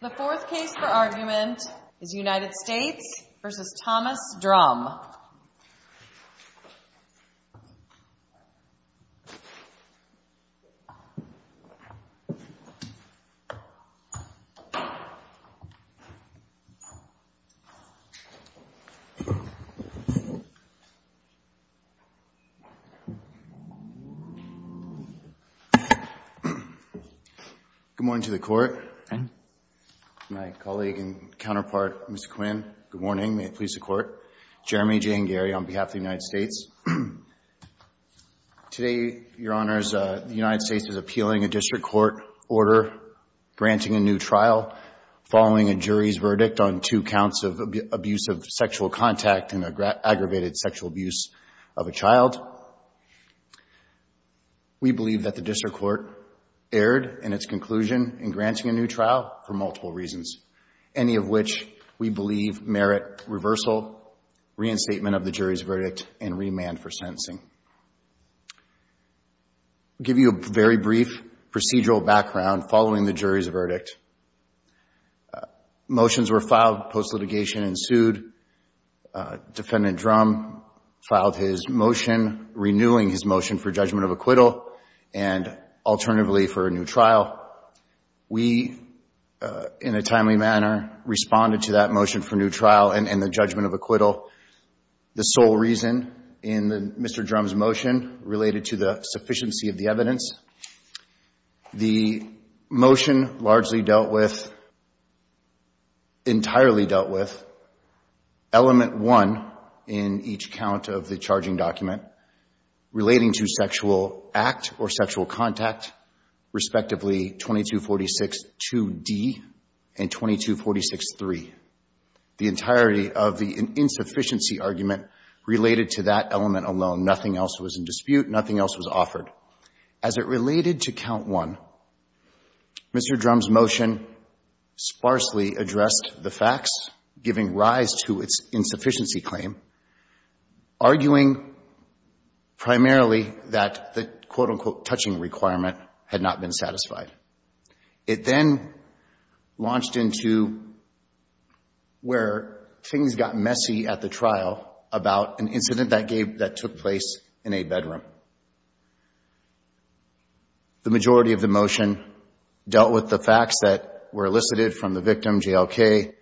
The fourth case for argument is United States v. Thomas Drum. Good morning to the court. My colleague and counterpart, Mr. Quinn. Good morning. May j&j on behalf of the United States. Today, your honors, the United States is appealing a district court order granting a new trial following a jury's verdict on two counts of abuse of sexual contact and aggravated sexual abuse of a child. We believe that the district court erred in its conclusion in granting a new trial for multiple reasons, any of which we believe merit reversal, reinstatement of the jury's verdict, and remand for sentencing. I'll give you a very brief procedural background following the jury's verdict. Motions were filed, post-litigation ensued. Defendant Drum filed his motion renewing his motion for judgment of acquittal and, alternatively, for a new trial. We, in a timely manner, responded to that motion for new trial and the judgment of acquittal. The sole reason in Mr. Drum's motion related to the sufficiency of the evidence. The motion largely dealt with, entirely dealt with, element one in each count of the charging document relating to sexual act or sexual contact, respectively, 2246-2D and 2246-3. The entirety of the insufficiency argument related to that element alone. Nothing else was in dispute. Nothing else was offered. As it related to count one, Mr. Drum's motion sparsely addressed the facts, giving rise to its insufficiency claim, arguing primarily that the, quote, unquote, touching requirement had not been satisfied. It then launched into where things got messy at the trial about an incident that took place in a bedroom. The majority of the motion dealt with the facts that were elicited from the victim, JLK,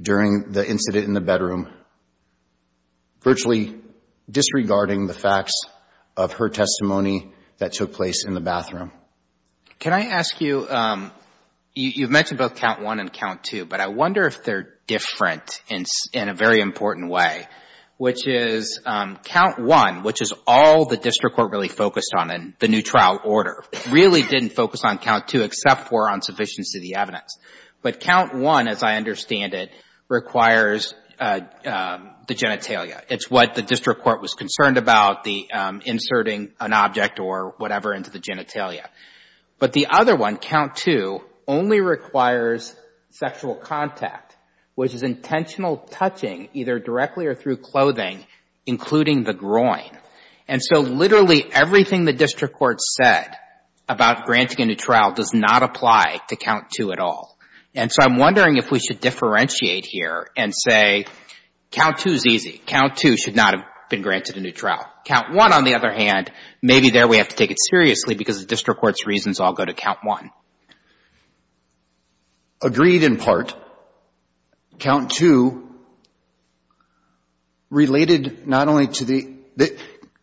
during the incident in the bedroom, virtually disregarding the facts of her testimony that took place in the bathroom. Can I ask you, you've mentioned both count one and count two, but I wonder if they're different in a very important way, which is count one, which is all the district court really focused on in the new trial order, really didn't focus on count two except for on sufficiency of the evidence. But count one, as I understand it, requires the genitalia. It's what the district court was concerned about, the inserting an object or whatever into the genitalia. But the other one, count two, only requires sexual contact, which is intentional touching, either directly or through clothing, including the groin. And so literally everything the district court said about granting a new trial does not apply to count two at all. And so I'm wondering if we should differentiate here and say count two is easy. Count two should not have been granted a new trial. Count one, on the other hand, maybe there is a reason why we have to take it seriously, because the district court's reasons all go to count one. Agreed in part. Count two related not only to the —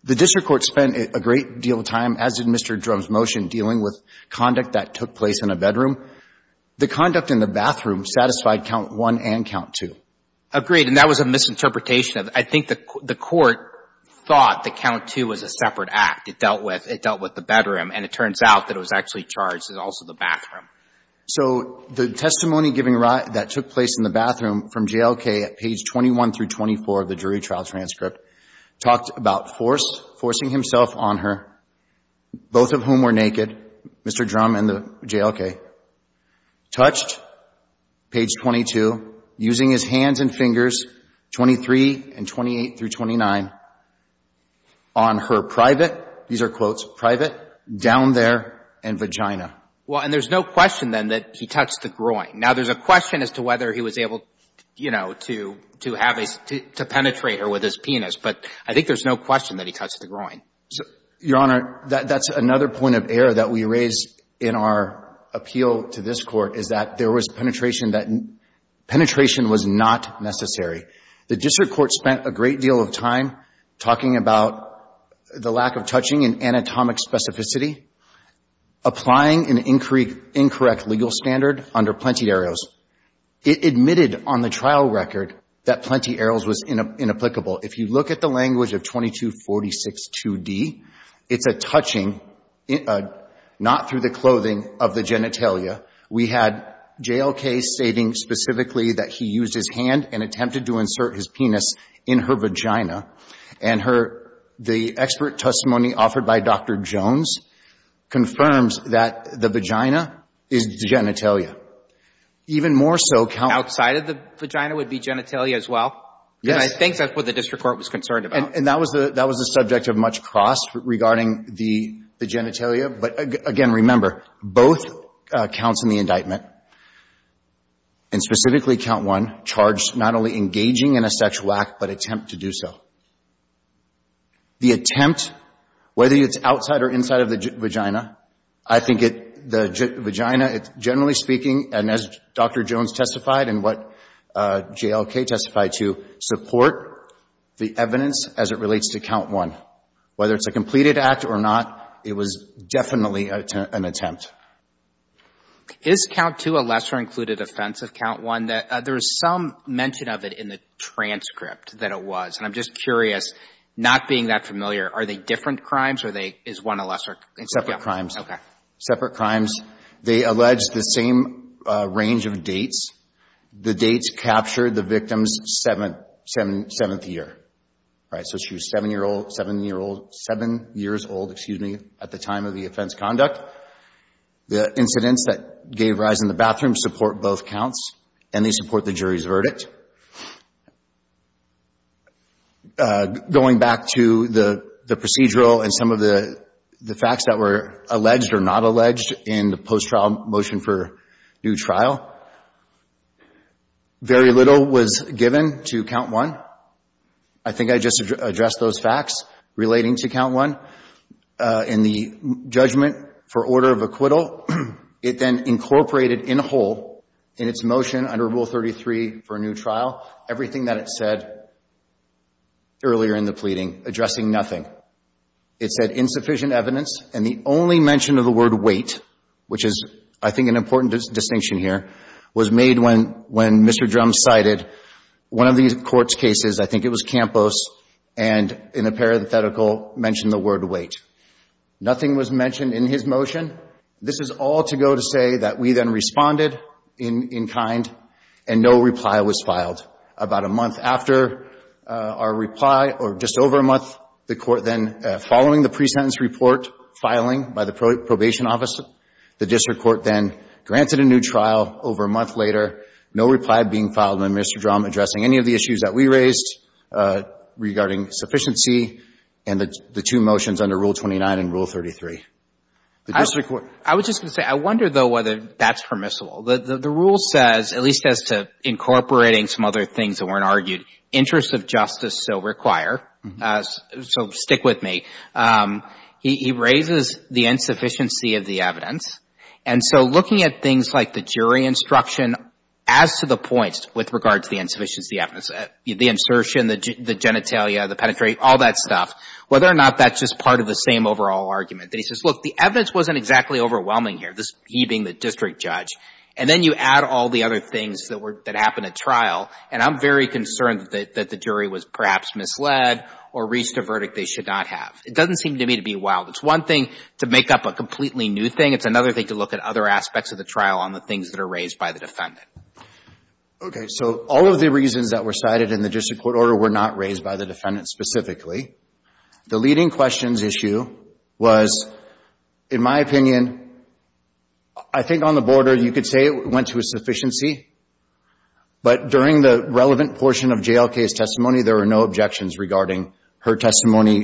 the district court spent a great deal of time, as in Mr. Drum's motion, dealing with conduct that took place in a bedroom. The conduct in the bathroom satisfied count one and count two. Agreed. And that was a misinterpretation. I think the court thought that count two was a separate act. It dealt with — it dealt with the bedroom. And it turns out that it was actually charged in also the bathroom. So the testimony giving — that took place in the bathroom from JLK at page 21 through 24 of the jury trial transcript talked about force — forcing himself on her, both of whom were naked, Mr. Drum and the JLK, touched, page 22, using his hands and fingers, 23 and 24, 28 through 29, on her private — these are quotes — private, down there, and vagina. Well, and there's no question, then, that he touched the groin. Now, there's a question as to whether he was able, you know, to — to have a — to penetrate her with his penis. But I think there's no question that he touched the groin. Your Honor, that's another point of error that we raise in our appeal to this Court, is that there was penetration that — penetration was not necessary. The district court spent a great deal of time talking about the lack of touching and anatomic specificity, applying an incorrect legal standard under Plenty Arrows. It admitted on the trial record that Plenty Arrows was inapplicable. If you look at the language of 22462D, it's a touching, not through the clothing of the genitalia. We had JLK stating specifically that he used his hand and attempted to insert his penis in her vagina. And her — the expert testimony offered by Dr. Jones confirms that the vagina is the genitalia. Even more so, Counsel — Outside of the vagina would be genitalia as well? Yes. And I think that's what the district court was concerned about. And that was the — that was the subject of much cross regarding the — the genitalia. But again, remember, both counts in the indictment, and specifically Count 1, charged not only engaging in a sexual act but attempt to do so. The attempt, whether it's outside or inside of the vagina, I think it — the vagina, generally speaking, and as Dr. Jones testified and what JLK testified to, support the evidence as it relates to Count 1. Whether it's a completed act or not, it was definitely an attempt. Is Count 2 a lesser-included offense of Count 1? There is some mention of it in the transcript that it was. And I'm just curious, not being that familiar, are they different crimes, or they — is one a lesser — They're separate crimes. Okay. Separate crimes. They allege the same range of dates. The dates captured the victim's seventh — seventh year, right? So she was seven-year-old — seven-year-old — seven years old, excuse me, at the time of the offense conduct. The incidents that gave rise in the bathroom support both counts, and they support the jury's verdict. Going back to the procedural and some of the — the facts that were alleged or not alleged in the post-trial motion for new trial, very little was given to Count 1. I think I just addressed those facts relating to Count 1. In the judgment for order of acquittal, it then incorporated in whole, in its motion under Rule 33 for a new trial, everything that it said earlier in the pleading, addressing nothing. It said insufficient evidence, and the only mention of the word wait, which is, I think, an important distinction here, was made when — when Mr. Drumm cited one of the court's cases, I think it was Campos, and in a parenthetical mentioned the word wait. Nothing was mentioned in his motion. This is all to go to say that we then responded in — in kind, and no reply was filed. About a month after our reply, or just over a month, the court then, following the pre-sentence report filing by the Probation Office, the district court then granted a new trial. Over a month later, no reply being filed on Mr. Drumm addressing any of the issues that we raised regarding sufficiency and the two motions under Rule 29 and Rule 33. I was just going to say, I wonder, though, whether that's permissible. The rule says, at least as to incorporating some other things that weren't argued, interests of justice so require, so stick with me. He — he raises the insufficiency of the evidence, and so looking at things like the jury instruction, as to the points with regard to the insufficiency evidence, the insertion, the genitalia, the penetrating, all that stuff, whether or not that's just part of the same overall argument, that he says, look, the evidence wasn't exactly overwhelming here, this — he being the district judge. And then you add all the other things that were — that happened at trial, and I'm very concerned that the jury was perhaps misled or reached a verdict they should not have. It doesn't seem to me to be wild. It's one thing to make up a completely new thing. It's another thing to look at other aspects of the trial on the things that are raised by the defendant. Okay. So all of the reasons that were cited in the district court order were not raised by the defendant specifically. The leading questions issue was, in my opinion, I think on the border, you could say it went to a sufficiency, but during the relevant portion of J.L. Kaye's testimony, there were no objections regarding her testimony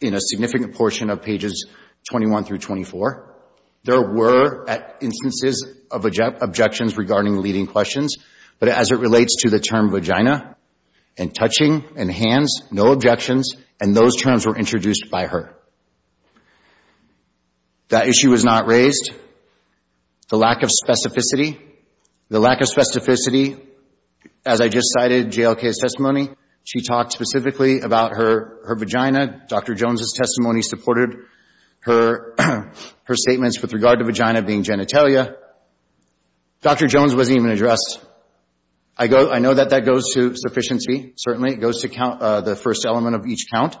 in a significant portion of pages 21 through 24. There were, at instances, objections regarding leading questions, but as it relates to the term vagina and touching and hands, no objections, and those terms were introduced by her. That issue was not raised. The lack of specificity — the lack of specificity, as I just cited J.L. Kaye's testimony, she talked specifically about her vagina. Dr. Jones' testimony supported her statements with regard to vagina being genitalia. Dr. Jones wasn't even addressed. I go — I know that that goes to sufficiency, certainly. It goes to count — the first element of each count.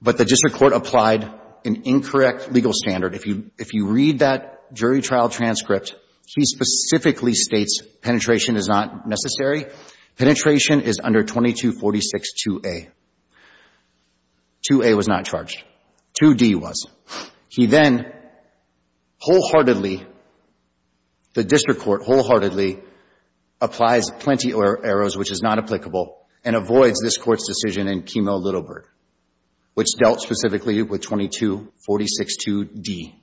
But the district court applied an incorrect legal standard. If you read that jury trial transcript, he specifically states penetration is not necessary. Penetration is under 2246-2A. 2A was not charged. 2D was. He then wholeheartedly, the district court wholeheartedly applies plenty of arrows, which is not applicable, and avoids this court's decision in Kemo-Littleburg, which dealt specifically with 2246-2D.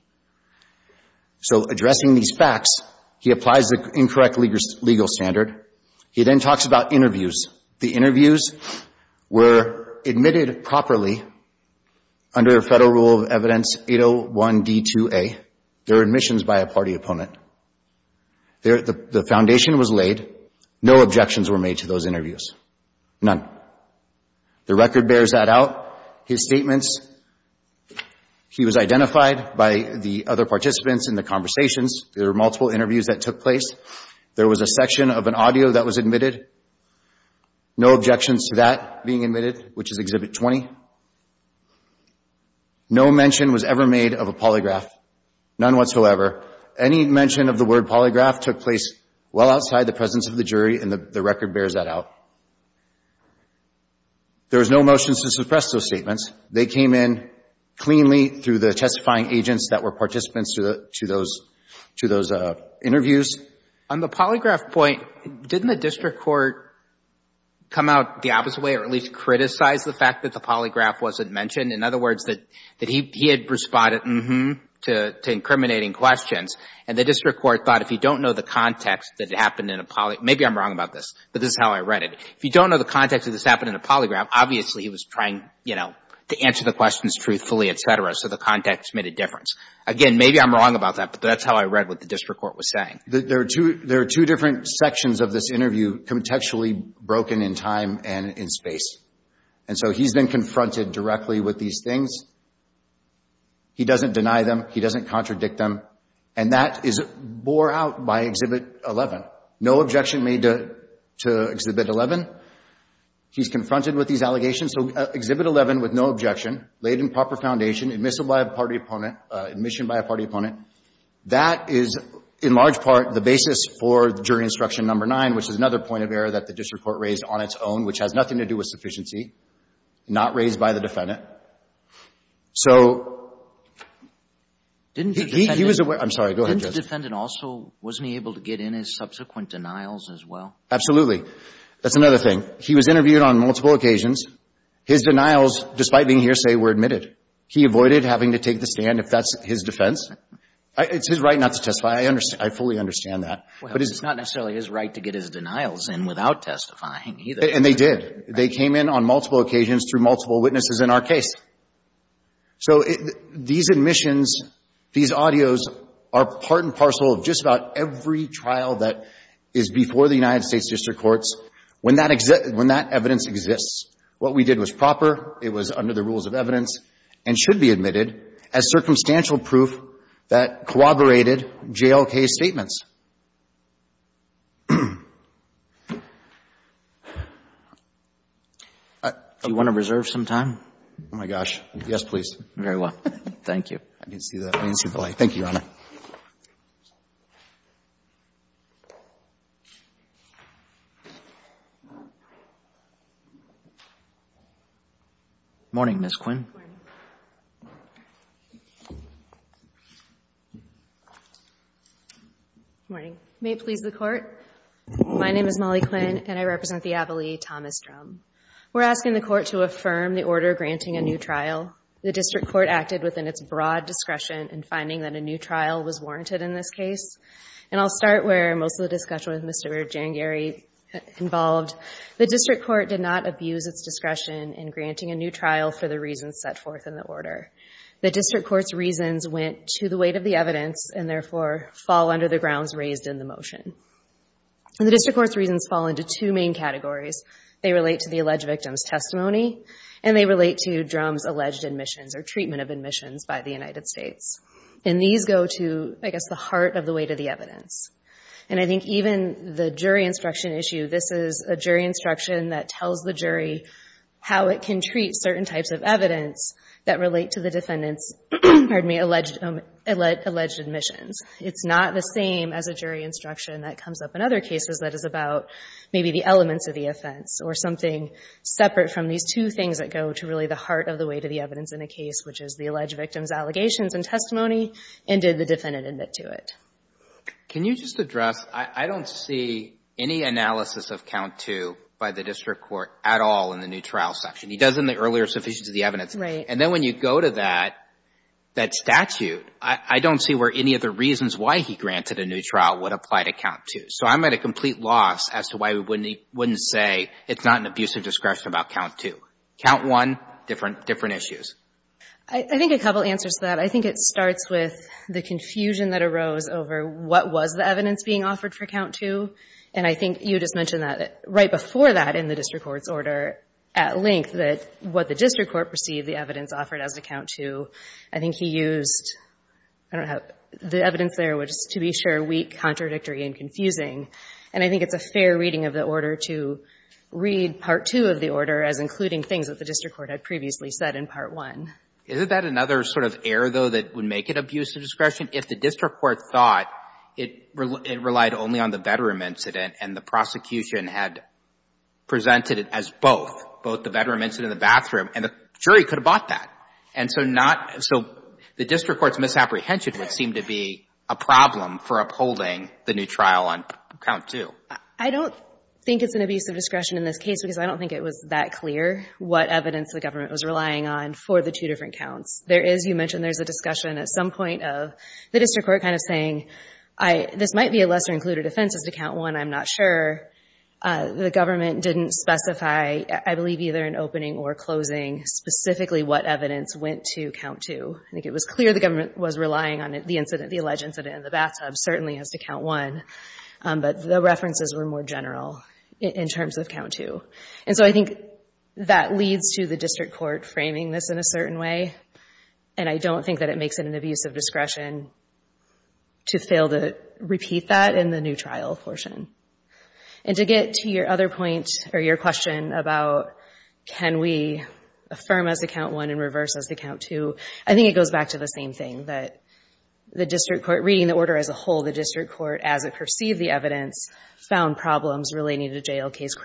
So addressing these facts, he applies the incorrect legal standard. He then talks about interviews. The interviews were admitted properly under federal rule of evidence 801-D-2A. They're admissions by a party opponent. The foundation was laid. No objections were made to those interviews. None. The record bears that out. His statements, he was identified by the other participants in the conversations. There were multiple interviews that took place. There was a section of an audio that was admitted. No objections to that being admitted, which is Exhibit 20. No mention was ever made of a polygraph. None whatsoever. Any mention of the word polygraph took place well outside the presence of the jury, and the record bears that out. There was no motions to suppress those statements. They came in cleanly through the testifying agents that were participants to those interviews. On the polygraph point, didn't the district court come out the opposite way or at least criticize the fact that the polygraph wasn't mentioned? In other words, that he had responded mm-hmm to incriminating questions, and the district court thought if you don't know the context that it happened in a polygraph, maybe I'm wrong about this, but this is how I read it. If you don't know the context that this happened in a polygraph, obviously he was trying, you know, to answer the questions truthfully, et cetera, so the context made a difference. Again, maybe I'm wrong about that, but that's how I read what the district court was saying. There are two different sections of this interview contextually broken in time and in space, and so he's been confronted directly with these things. He doesn't deny them. He doesn't No objection made to Exhibit 11. He's confronted with these allegations. So Exhibit 11 with no objection, laid in proper foundation, admissible by a party opponent, admission by a party opponent. That is, in large part, the basis for jury instruction number nine, which is another point of error that the district court raised on its own, which has nothing to do with sufficiency, not raised by the defendant. So he was aware. I'm sorry. Go ahead, Jess. And also, wasn't he able to get in his subsequent denials as well? Absolutely. That's another thing. He was interviewed on multiple occasions. His denials, despite being hearsay, were admitted. He avoided having to take the stand, if that's his defense. It's his right not to testify. I fully understand that. Well, it's not necessarily his right to get his denials in without testifying either. And they did. They came in on multiple occasions through multiple witnesses in our case. So these admissions, these audios are part and parcel of just about every trial that is before the United States district courts when that evidence exists. What we did was proper. It was under the rules of evidence and should be admitted as circumstantial proof that corroborated JLK's statements. Do you want to reserve some time? Oh, my gosh. Yes, please. Very well. Thank you. I didn't see that. I didn't see the light. Thank you, Your Honor. Morning, Ms. Quinn. Morning. May it please the Court. My name is Molly Quinn, and I represent the ability Thomas Drum. We're asking the Court to affirm the order granting a new trial. The district court acted within its broad discretion in finding that a new trial was warranted in this case. And I'll start where most of the discussion with Mr. Jangary involved. The district court did not abuse its discretion in granting a new trial for the reasons set forth in the order. The district court's reasons went to the weight of the evidence and, therefore, fall under the grounds raised in the motion. And the district court's reasons fall into two main categories. They relate to the alleged victim's testimony, and they relate to Drum's alleged admissions or treatment of admissions by the United States. And these go to, I guess, the heart of the weight of the evidence. And I think even the jury instruction issue, this is a jury instruction that tells the jury how it can treat certain types of evidence that relate to the defendant's, pardon me, alleged admissions. It's not the same as a jury instruction that comes up in other cases that is about maybe the elements of the offense or something separate from these two things that go to really the heart of the weight of the evidence in a case, which is the alleged victim's allegations and testimony and did the defendant admit to it. Can you just address, I don't see any analysis of count two by the district court at all in the new trial section. He does in the earlier sufficiency of the evidence. Right. And then when you go to that statute, I don't see where any of the reasons why he granted a new trial would apply to count two. So I'm at a complete loss as to why we wouldn't say it's not an abusive discretion about count two. Count one, different issues. I think a couple answers to that. I think it starts with the confusion that arose over what was the evidence being offered for count two. And I think you just mentioned that right before that in the district court's order at length that what the district court perceived the evidence offered as to count two. I think he used, I don't know, the evidence there was, to be sure, weak, contradictory, and confusing. And I think it's a fair reading of the order to read part two of the order as including things that the district court had previously said in part one. Isn't that another sort of error, though, that would make it abusive discretion? If the district court thought it relied only on the bedroom incident and the prosecution had presented it as both, both the bedroom incident and the bathroom, and the jury could have bought that. And so not, so the district court's misapprehension would seem to be a problem for upholding the new trial on count two. I don't think it's an abusive discretion in this case because I don't think it was that clear what evidence the government was relying on for the two different counts. There is, you mentioned there's a discussion at some point of the district court kind of saying, this might be a lesser included offense as to count one, I'm not sure. The government didn't specify, I believe, either an opening or closing specifically what evidence went to count two. I think it was clear the government was relying on the incident, the alleged incident in the bathtub certainly as to count one. But the references were more general in terms of count two. And so I think that leads to the district court framing this in a certain way. And I don't think that it makes it an abusive discretion to fail to repeat that in the new trial portion. And to get to your other point, or your question about can we affirm as to count one and reverse as to count two, I think it goes back to the same thing, that the district court, reading the order as a whole, the district court, as it perceived the evidence, found problems relating to JLK's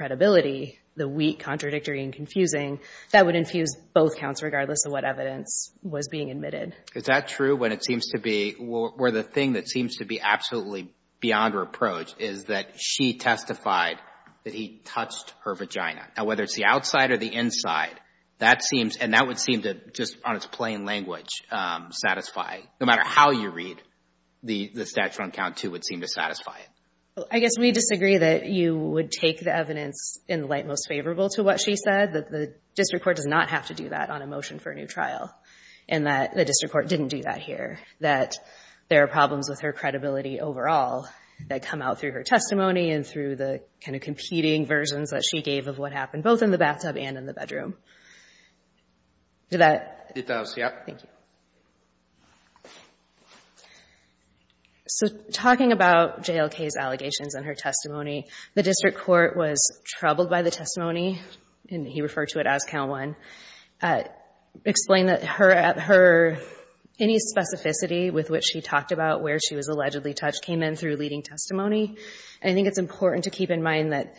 the weak, contradictory, and confusing, that would infuse both counts regardless of what evidence was being admitted. Is that true when it seems to be, where the thing that seems to be absolutely beyond reproach is that she testified that he touched her vagina. Now, whether it's the outside or the inside, that seems, and that would seem to, just on its plain language, satisfy, no matter how you read, the statute on count two would seem to satisfy it. I guess we disagree that you would take the evidence in the light most favorable to what she said, that the district court does not have to do that on a motion for a new trial. And that the district court didn't do that here. That there are problems with her credibility overall that come out through her testimony and through the competing versions that she gave of what happened, both in the bathtub and in the bedroom. Did that? So, talking about JLK's allegations and her testimony, the district court was troubled by the testimony, and he referred to it as count one. Explained that her, any specificity with which she talked about where she was allegedly touched came in through leading testimony. I think it's important to keep in mind that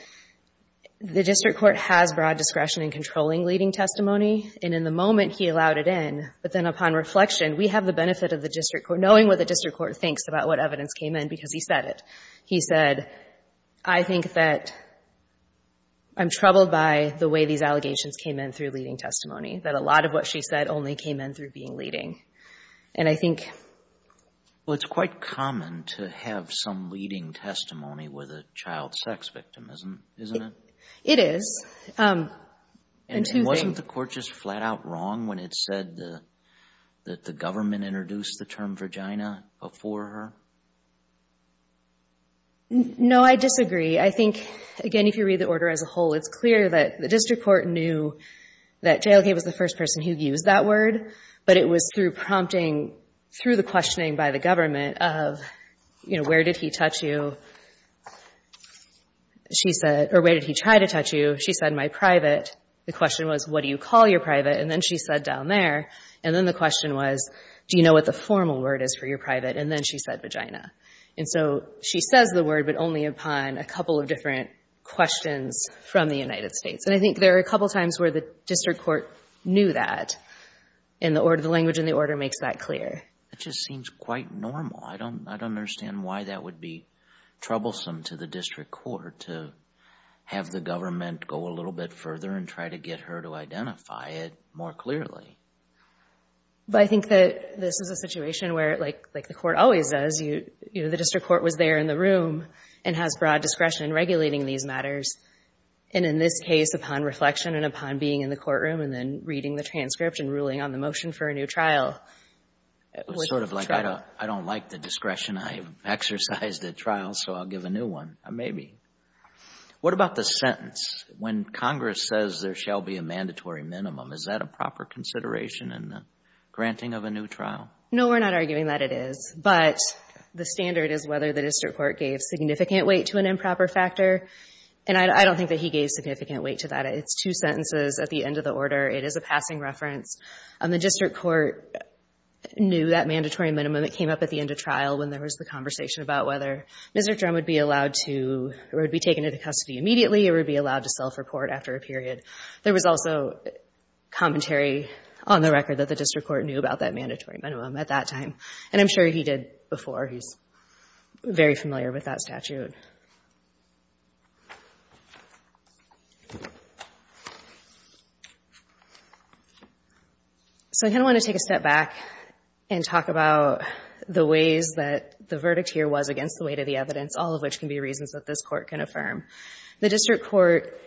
the district court has broad discretion in controlling leading testimony. And in the moment he allowed it in, but then upon reflection, we have the benefit of the district court, knowing what the district court thinks about what evidence came in, because he said it. He said, I think that I'm troubled by the way these allegations came in through leading testimony. That a lot of what she said only came in through being leading. And I think... That's some leading testimony with a child sex victim, isn't it? It is. And two things... And wasn't the court just flat out wrong when it said that the government introduced the term vagina before her? No, I disagree. I think, again, if you read the order as a whole, it's clear that the district court knew that JLK was the first person who used that word. But it was through prompting, through the questioning by the government of, you know, where did he touch you? She said, or where did he try to touch you? She said, my private. The question was, what do you call your private? And then she said down there. And then the question was, do you know what the formal word is for your private? And then she said vagina. And so she says the word, but only upon a couple of different questions from the United States. And I think there are a couple of times where the district court knew that, and the language in the order makes that clear. It just seems quite normal. I don't understand why that would be troublesome to the district court to have the government go a little bit further and try to get her to identify it more clearly. But I think that this is a situation where, like the court always does, the district court was there in the room and has broad discretion regulating these matters. And in this case, upon reflection and upon being in the courtroom and then reading the transcript and ruling on the motion for a new trial. It was sort of like, I don't like the discretion. I exercised at trial, so I'll give a new one. Maybe. What about the sentence, when Congress says there shall be a mandatory minimum? Is that a proper consideration in the granting of a new trial? No, we're not arguing that it is. But the standard is whether the district court gave significant weight to an improper factor. And I don't think that he gave significant weight to that. It's two sentences at the end of the order. It is a passing reference. The district court knew that mandatory minimum. It came up at the end of trial when there was the conversation about whether Mr. Drum would be allowed to, or would be taken into custody immediately, or would be allowed to self-report after a period. There was also commentary on the record that the district court knew about that mandatory minimum at that time. And I'm sure he did before. He's very familiar with that statute. So I kind of want to take a step back and talk about the ways that the verdict here was against the weight of the evidence, all of which can be reasons that this Court can affirm. The district court,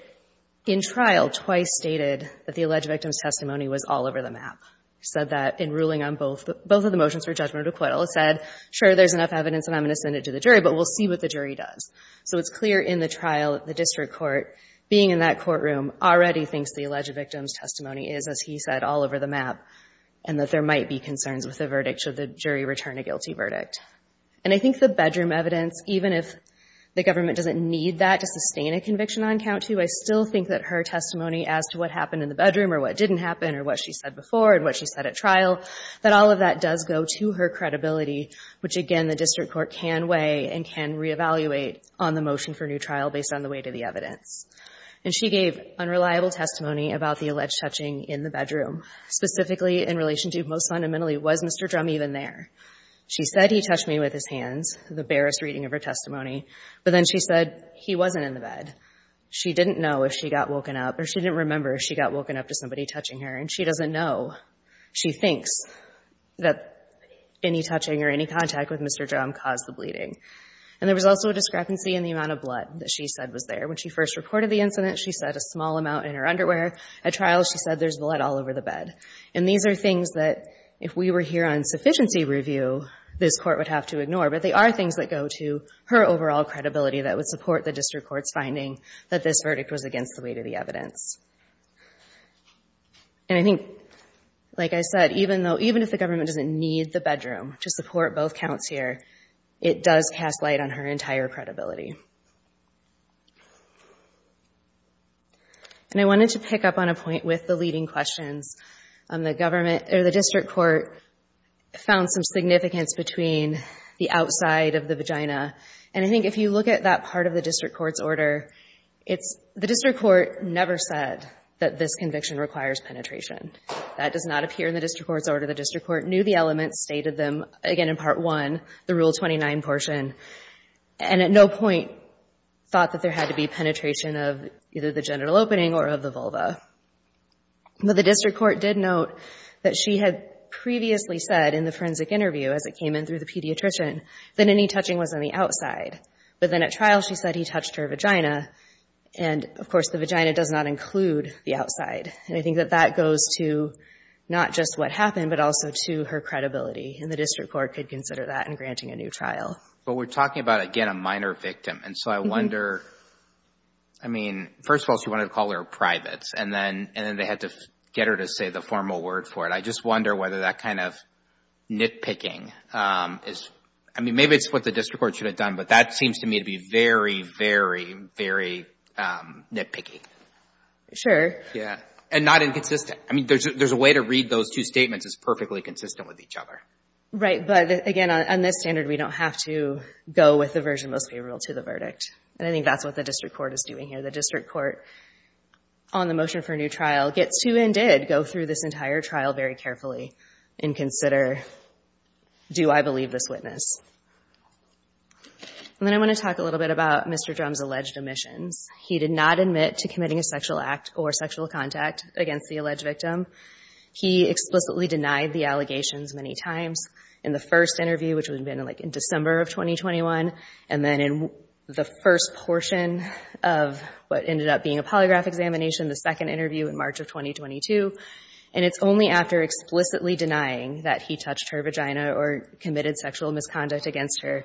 in trial, twice stated that the alleged victim's testimony was all over the map. It said that in ruling on both of the motions for judgmental acquittal. It said, sure, there's enough evidence, and I'm going to send it to the jury, but we'll see what the jury does. So it's clear in the trial that the district court, being in that courtroom, already thinks the alleged victim's testimony is, as he said, all over the map, and that there might be concerns with the verdict should the jury return a guilty verdict. And I think the bedroom evidence, even if the government doesn't need that to sustain a conviction on count two, I still think that her testimony as to what happened in the bedroom or what didn't happen or what she said before and what she said at trial, that all of that does go to her credibility, which, again, the district court can weigh and can reevaluate on the motion for new trial based on the weight of the evidence. And she gave unreliable testimony about the alleged touching in the bedroom, specifically in relation to, most fundamentally, was Mr. Drum even there? She said, he touched me with his hands, the barest reading of her testimony, but then she said he wasn't in the bed. She didn't know if she got woken up, or she didn't remember if she got woken up to somebody touching her, and she doesn't know, she thinks, that any touching or any contact with Mr. Drum caused the bleeding. And there was also a discrepancy in the amount of blood that she said was there. When she first reported the incident, she said a small amount in her underwear. At trial, she said there's blood all over the bed. And these are things that, if we were here on sufficiency review, this court would have to ignore, but they are things that go to her overall credibility that would support the district court's finding that this verdict was against the weight of the evidence. And I think, like I said, even if the government doesn't need the bedroom to support both counts here, it does cast light on her entire credibility. And I wanted to pick up on a point with the leading questions. The district court found some significance between the outside of the vagina, and I think if you look at that part of the district court's order, the district court never said that this conviction requires penetration. That does not appear in the district court's order. The district court knew the elements, stated them, again, in Part 1, the Rule 29 portion, and at no point thought that there had to be penetration of either the genital opening or of the vulva. But the district court did note that she had previously said in the forensic interview, as it came in through the pediatrician, that any touching was on the outside. But then at trial, she said he touched her vagina, and, of course, the vagina does not include the outside. And I think that that goes to not just what happened, but also to her credibility. And the district court could consider that in granting a new trial. But we're talking about, again, a minor victim. And so I wonder, I mean, first of all, she wanted to call her privates, and then they had to get her to say the formal word for it. I just wonder whether that kind of nitpicking is – I mean, maybe it's what the district court should have done, but that seems to me to be very, very, very nitpicky. Sure. And not inconsistent. I mean, there's a way to read those two statements as perfectly consistent with each other. Right. But, again, on this standard, we don't have to go with the version most favorable to the verdict. And I think that's what the district court is doing here. The district court, on the motion for a new trial, gets to and did go through this entire trial very carefully and consider, do I believe this witness? And then I want to talk a little bit about Mr. Drum's alleged omissions. He did not admit to committing a sexual act or sexual contact against the alleged victim. He explicitly denied the allegations many times in the first interview, which would have been, like, in December of 2021, and then in the first portion of what ended up being a polygraph examination, the second interview in March of 2022. And it's only after explicitly denying that he touched her vagina or committed sexual misconduct against her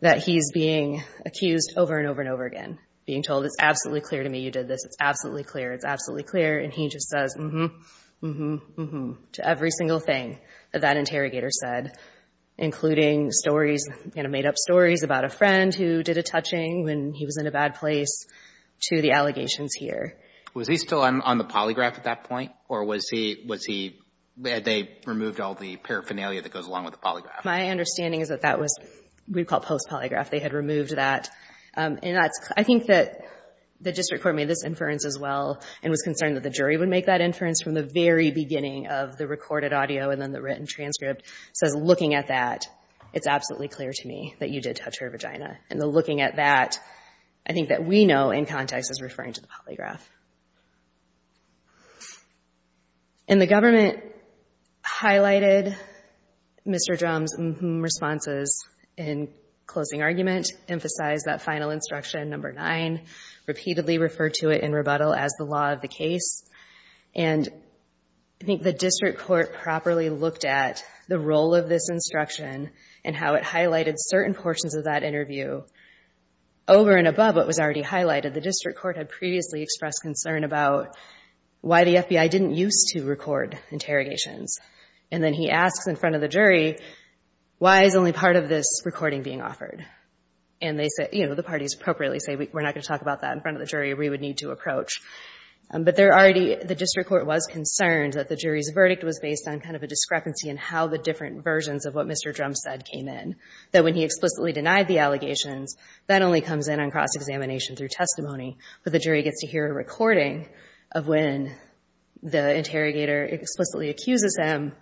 that he's being accused over and over and over again, being told, it's absolutely clear to me you did this. It's absolutely clear. It's absolutely clear. And he just says, mm-hmm, mm-hmm, mm-hmm, to every single thing that that interrogator said, including stories, you know, made-up stories about a friend who did a touching when he was in a bad place to the allegations here. Was he still on the polygraph at that point, or was he, had they removed all the paraphernalia that goes along with the polygraph? My understanding is that that was what we call post-polygraph. They had removed that. I think that the district court made this inference as well and was concerned that the jury would make that inference from the very beginning of the recorded audio and then the written transcript. It says, looking at that, it's absolutely clear to me that you did touch her vagina. And the looking at that, I think that we know in context is referring to the polygraph. And the government highlighted Mr. Drum's responses in closing argument, emphasized that final instruction, number nine, repeatedly referred to it in rebuttal as the law of the case. And I think the district court properly looked at the role of this instruction and how it highlighted certain portions of that interview. Over and above what was already highlighted, the district court had previously expressed concern about why the FBI didn't use to record interrogations. And then he asks in front of the jury, why is only part of this recording being offered? And the parties appropriately say, we're not going to talk about that in front of the jury. We would need to approach. But the district court was concerned that the jury's verdict was based on kind of a discrepancy in how the different versions of what Mr. Drum said came in. That when he explicitly denied the allegations, that only comes in on cross-examination through testimony. But the jury gets to hear a recording of when the interrogator explicitly accuses him,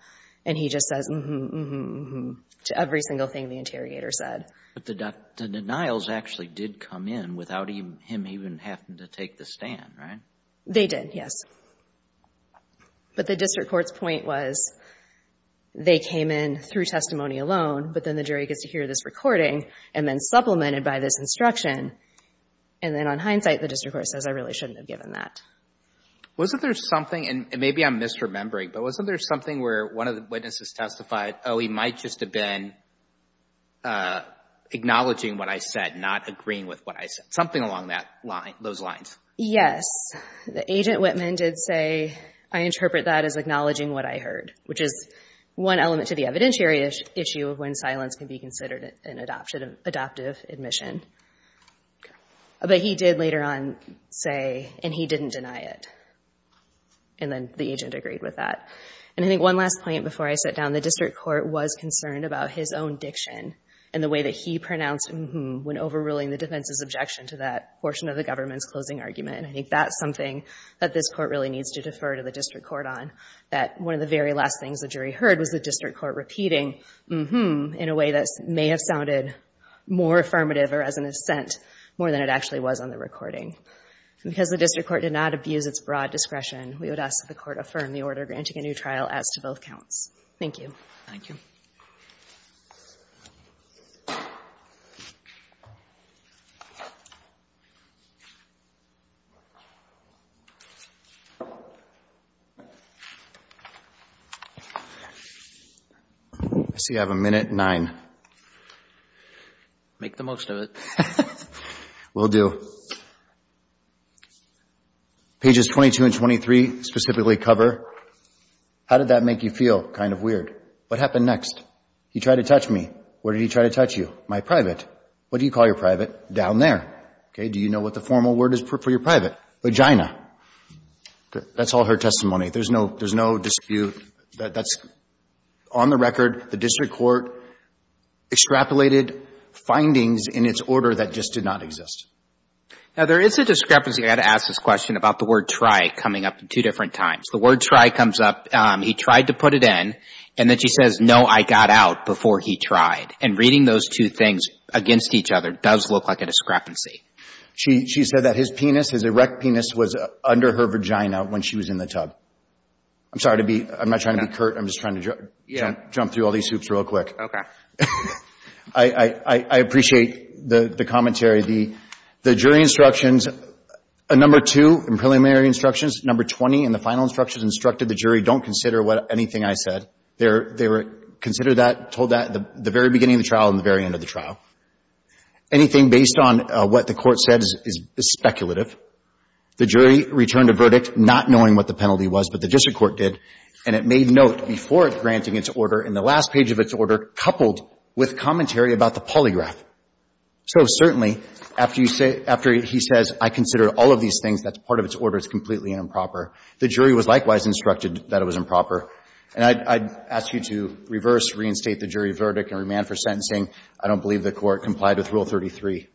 and he just says, mm-hmm, mm-hmm, mm-hmm, to every single thing the interrogator said. But the denials actually did come in without him even having to take the stand, right? They did, yes. But the district court's point was they came in through testimony alone, but then the jury gets to hear this recording and then supplemented by this instruction. And then on hindsight, the district court says, I really shouldn't have given that. Wasn't there something, and maybe I'm misremembering, but wasn't there something where one of the witnesses testified, oh, he might just have been acknowledging what I said, not agreeing with what I said? Something along those lines. Yes. Agent Whitman did say, I interpret that as acknowledging what I heard, which is one element to the evidentiary issue of when silence can be considered an adoptive admission. But he did later on say, and he didn't deny it. And then the agent agreed with that. And I think one last point before I sit down, the district court was concerned about his own diction and the way that he pronounced, mm-hmm, when overruling the defense's objection to that portion of the government's closing argument. I think that's something that this court really needs to defer to the district court on, that one of the very last things the jury heard was the district court repeating, mm-hmm, in a way that may have sounded more affirmative or as an assent more than it actually was on the recording. Because the district court did not abuse its broad discretion, we would ask that the court affirm the order granting a new trial as to both counts. Thank you. Thank you. I see you have a minute, nine. Make the most of it. Will do. Pages 22 and 23 specifically cover, how did that make you feel? Kind of weird. What happened next? He tried to touch me. Where did he try to touch you? My private. What do you call your private? Down there. Okay, do you know what the formal word is for your private? Vagina. That's all her testimony. There's no dispute. That's on the record. The district court extrapolated findings in its order that just did not exist. Now, there is a discrepancy I had to ask this question about the word try coming up two different times. The word try comes up, he tried to put it in, and then she says, no, I got out before he tried. And reading those two things against each other does look like a discrepancy. She said that his penis, his erect penis, was under her vagina when she was in the tub. I'm sorry to be, I'm not trying to be curt, I'm just trying to jump through all these hoops real quick. I appreciate the commentary. The jury instructions, a number two in preliminary instructions, number 20 in the final instructions instructed the jury don't consider anything I said. They were considered that, told that at the very beginning of the trial and the very end of the trial. Anything based on what the court said is speculative. The jury returned a verdict not knowing what the penalty was, but the district court did, and it made note before granting its order in the last page of its order coupled with commentary about the polygraph. So certainly, after you say, after he says I consider all of these things, that's part of its order, it's completely improper. The jury was likewise instructed that it was improper. And I'd ask you to reverse, reinstate the jury verdict and remand for sentencing. I don't believe the court complied with Rule 33.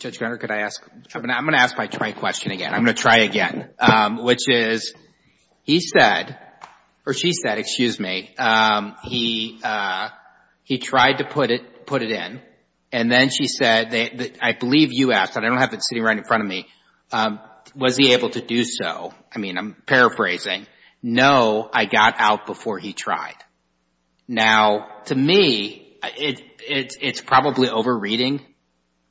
Judge Greger, could I ask? I'm going to ask my try question again. I'm going to try again, which is, he said, or she said, excuse me, he tried to put it in, and then she said, I believe you asked, and I don't have it sitting right in front of me, was he able to do so? I mean, I'm paraphrasing. No, I got out before he tried. Now, to me, it's probably over-reading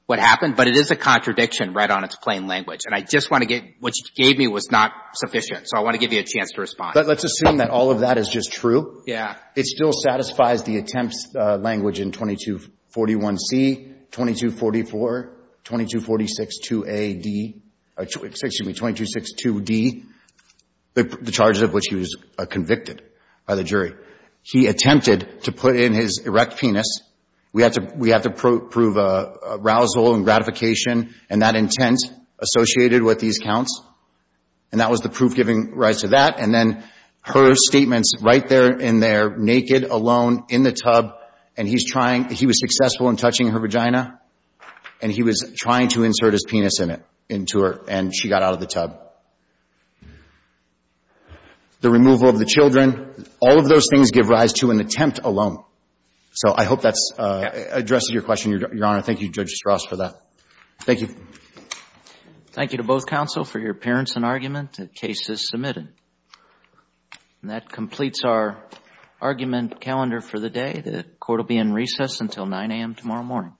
what happened, but it is a contradiction right on its plain language, and I just want to get, what you gave me was not sufficient, so I want to give you a chance to respond. But let's assume that all of that is just true. Yeah. It still satisfies the attempts language in 2241C, 2244, 2246-2A-D, excuse me, 2262-D, the charges of which he was convicted by the jury. He attempted to put in his erect penis. We have to prove arousal and gratification, and that intent associated with these counts, and that was the proof giving rise to that, and then her statements right there in there, naked, alone, in the tub, and he was successful in touching her vagina, and he was trying to insert his penis into her, and she got out of the tub. The removal of the children, all of those things give rise to an attempt alone. So I hope that addresses your question, Your Honor. Thank you, Judge Strauss, for that. Thank you. Thank you to both counsel for your appearance and argument. The case is submitted. And that completes our argument calendar for the day. The court will be in recess until 9 a.m. tomorrow morning.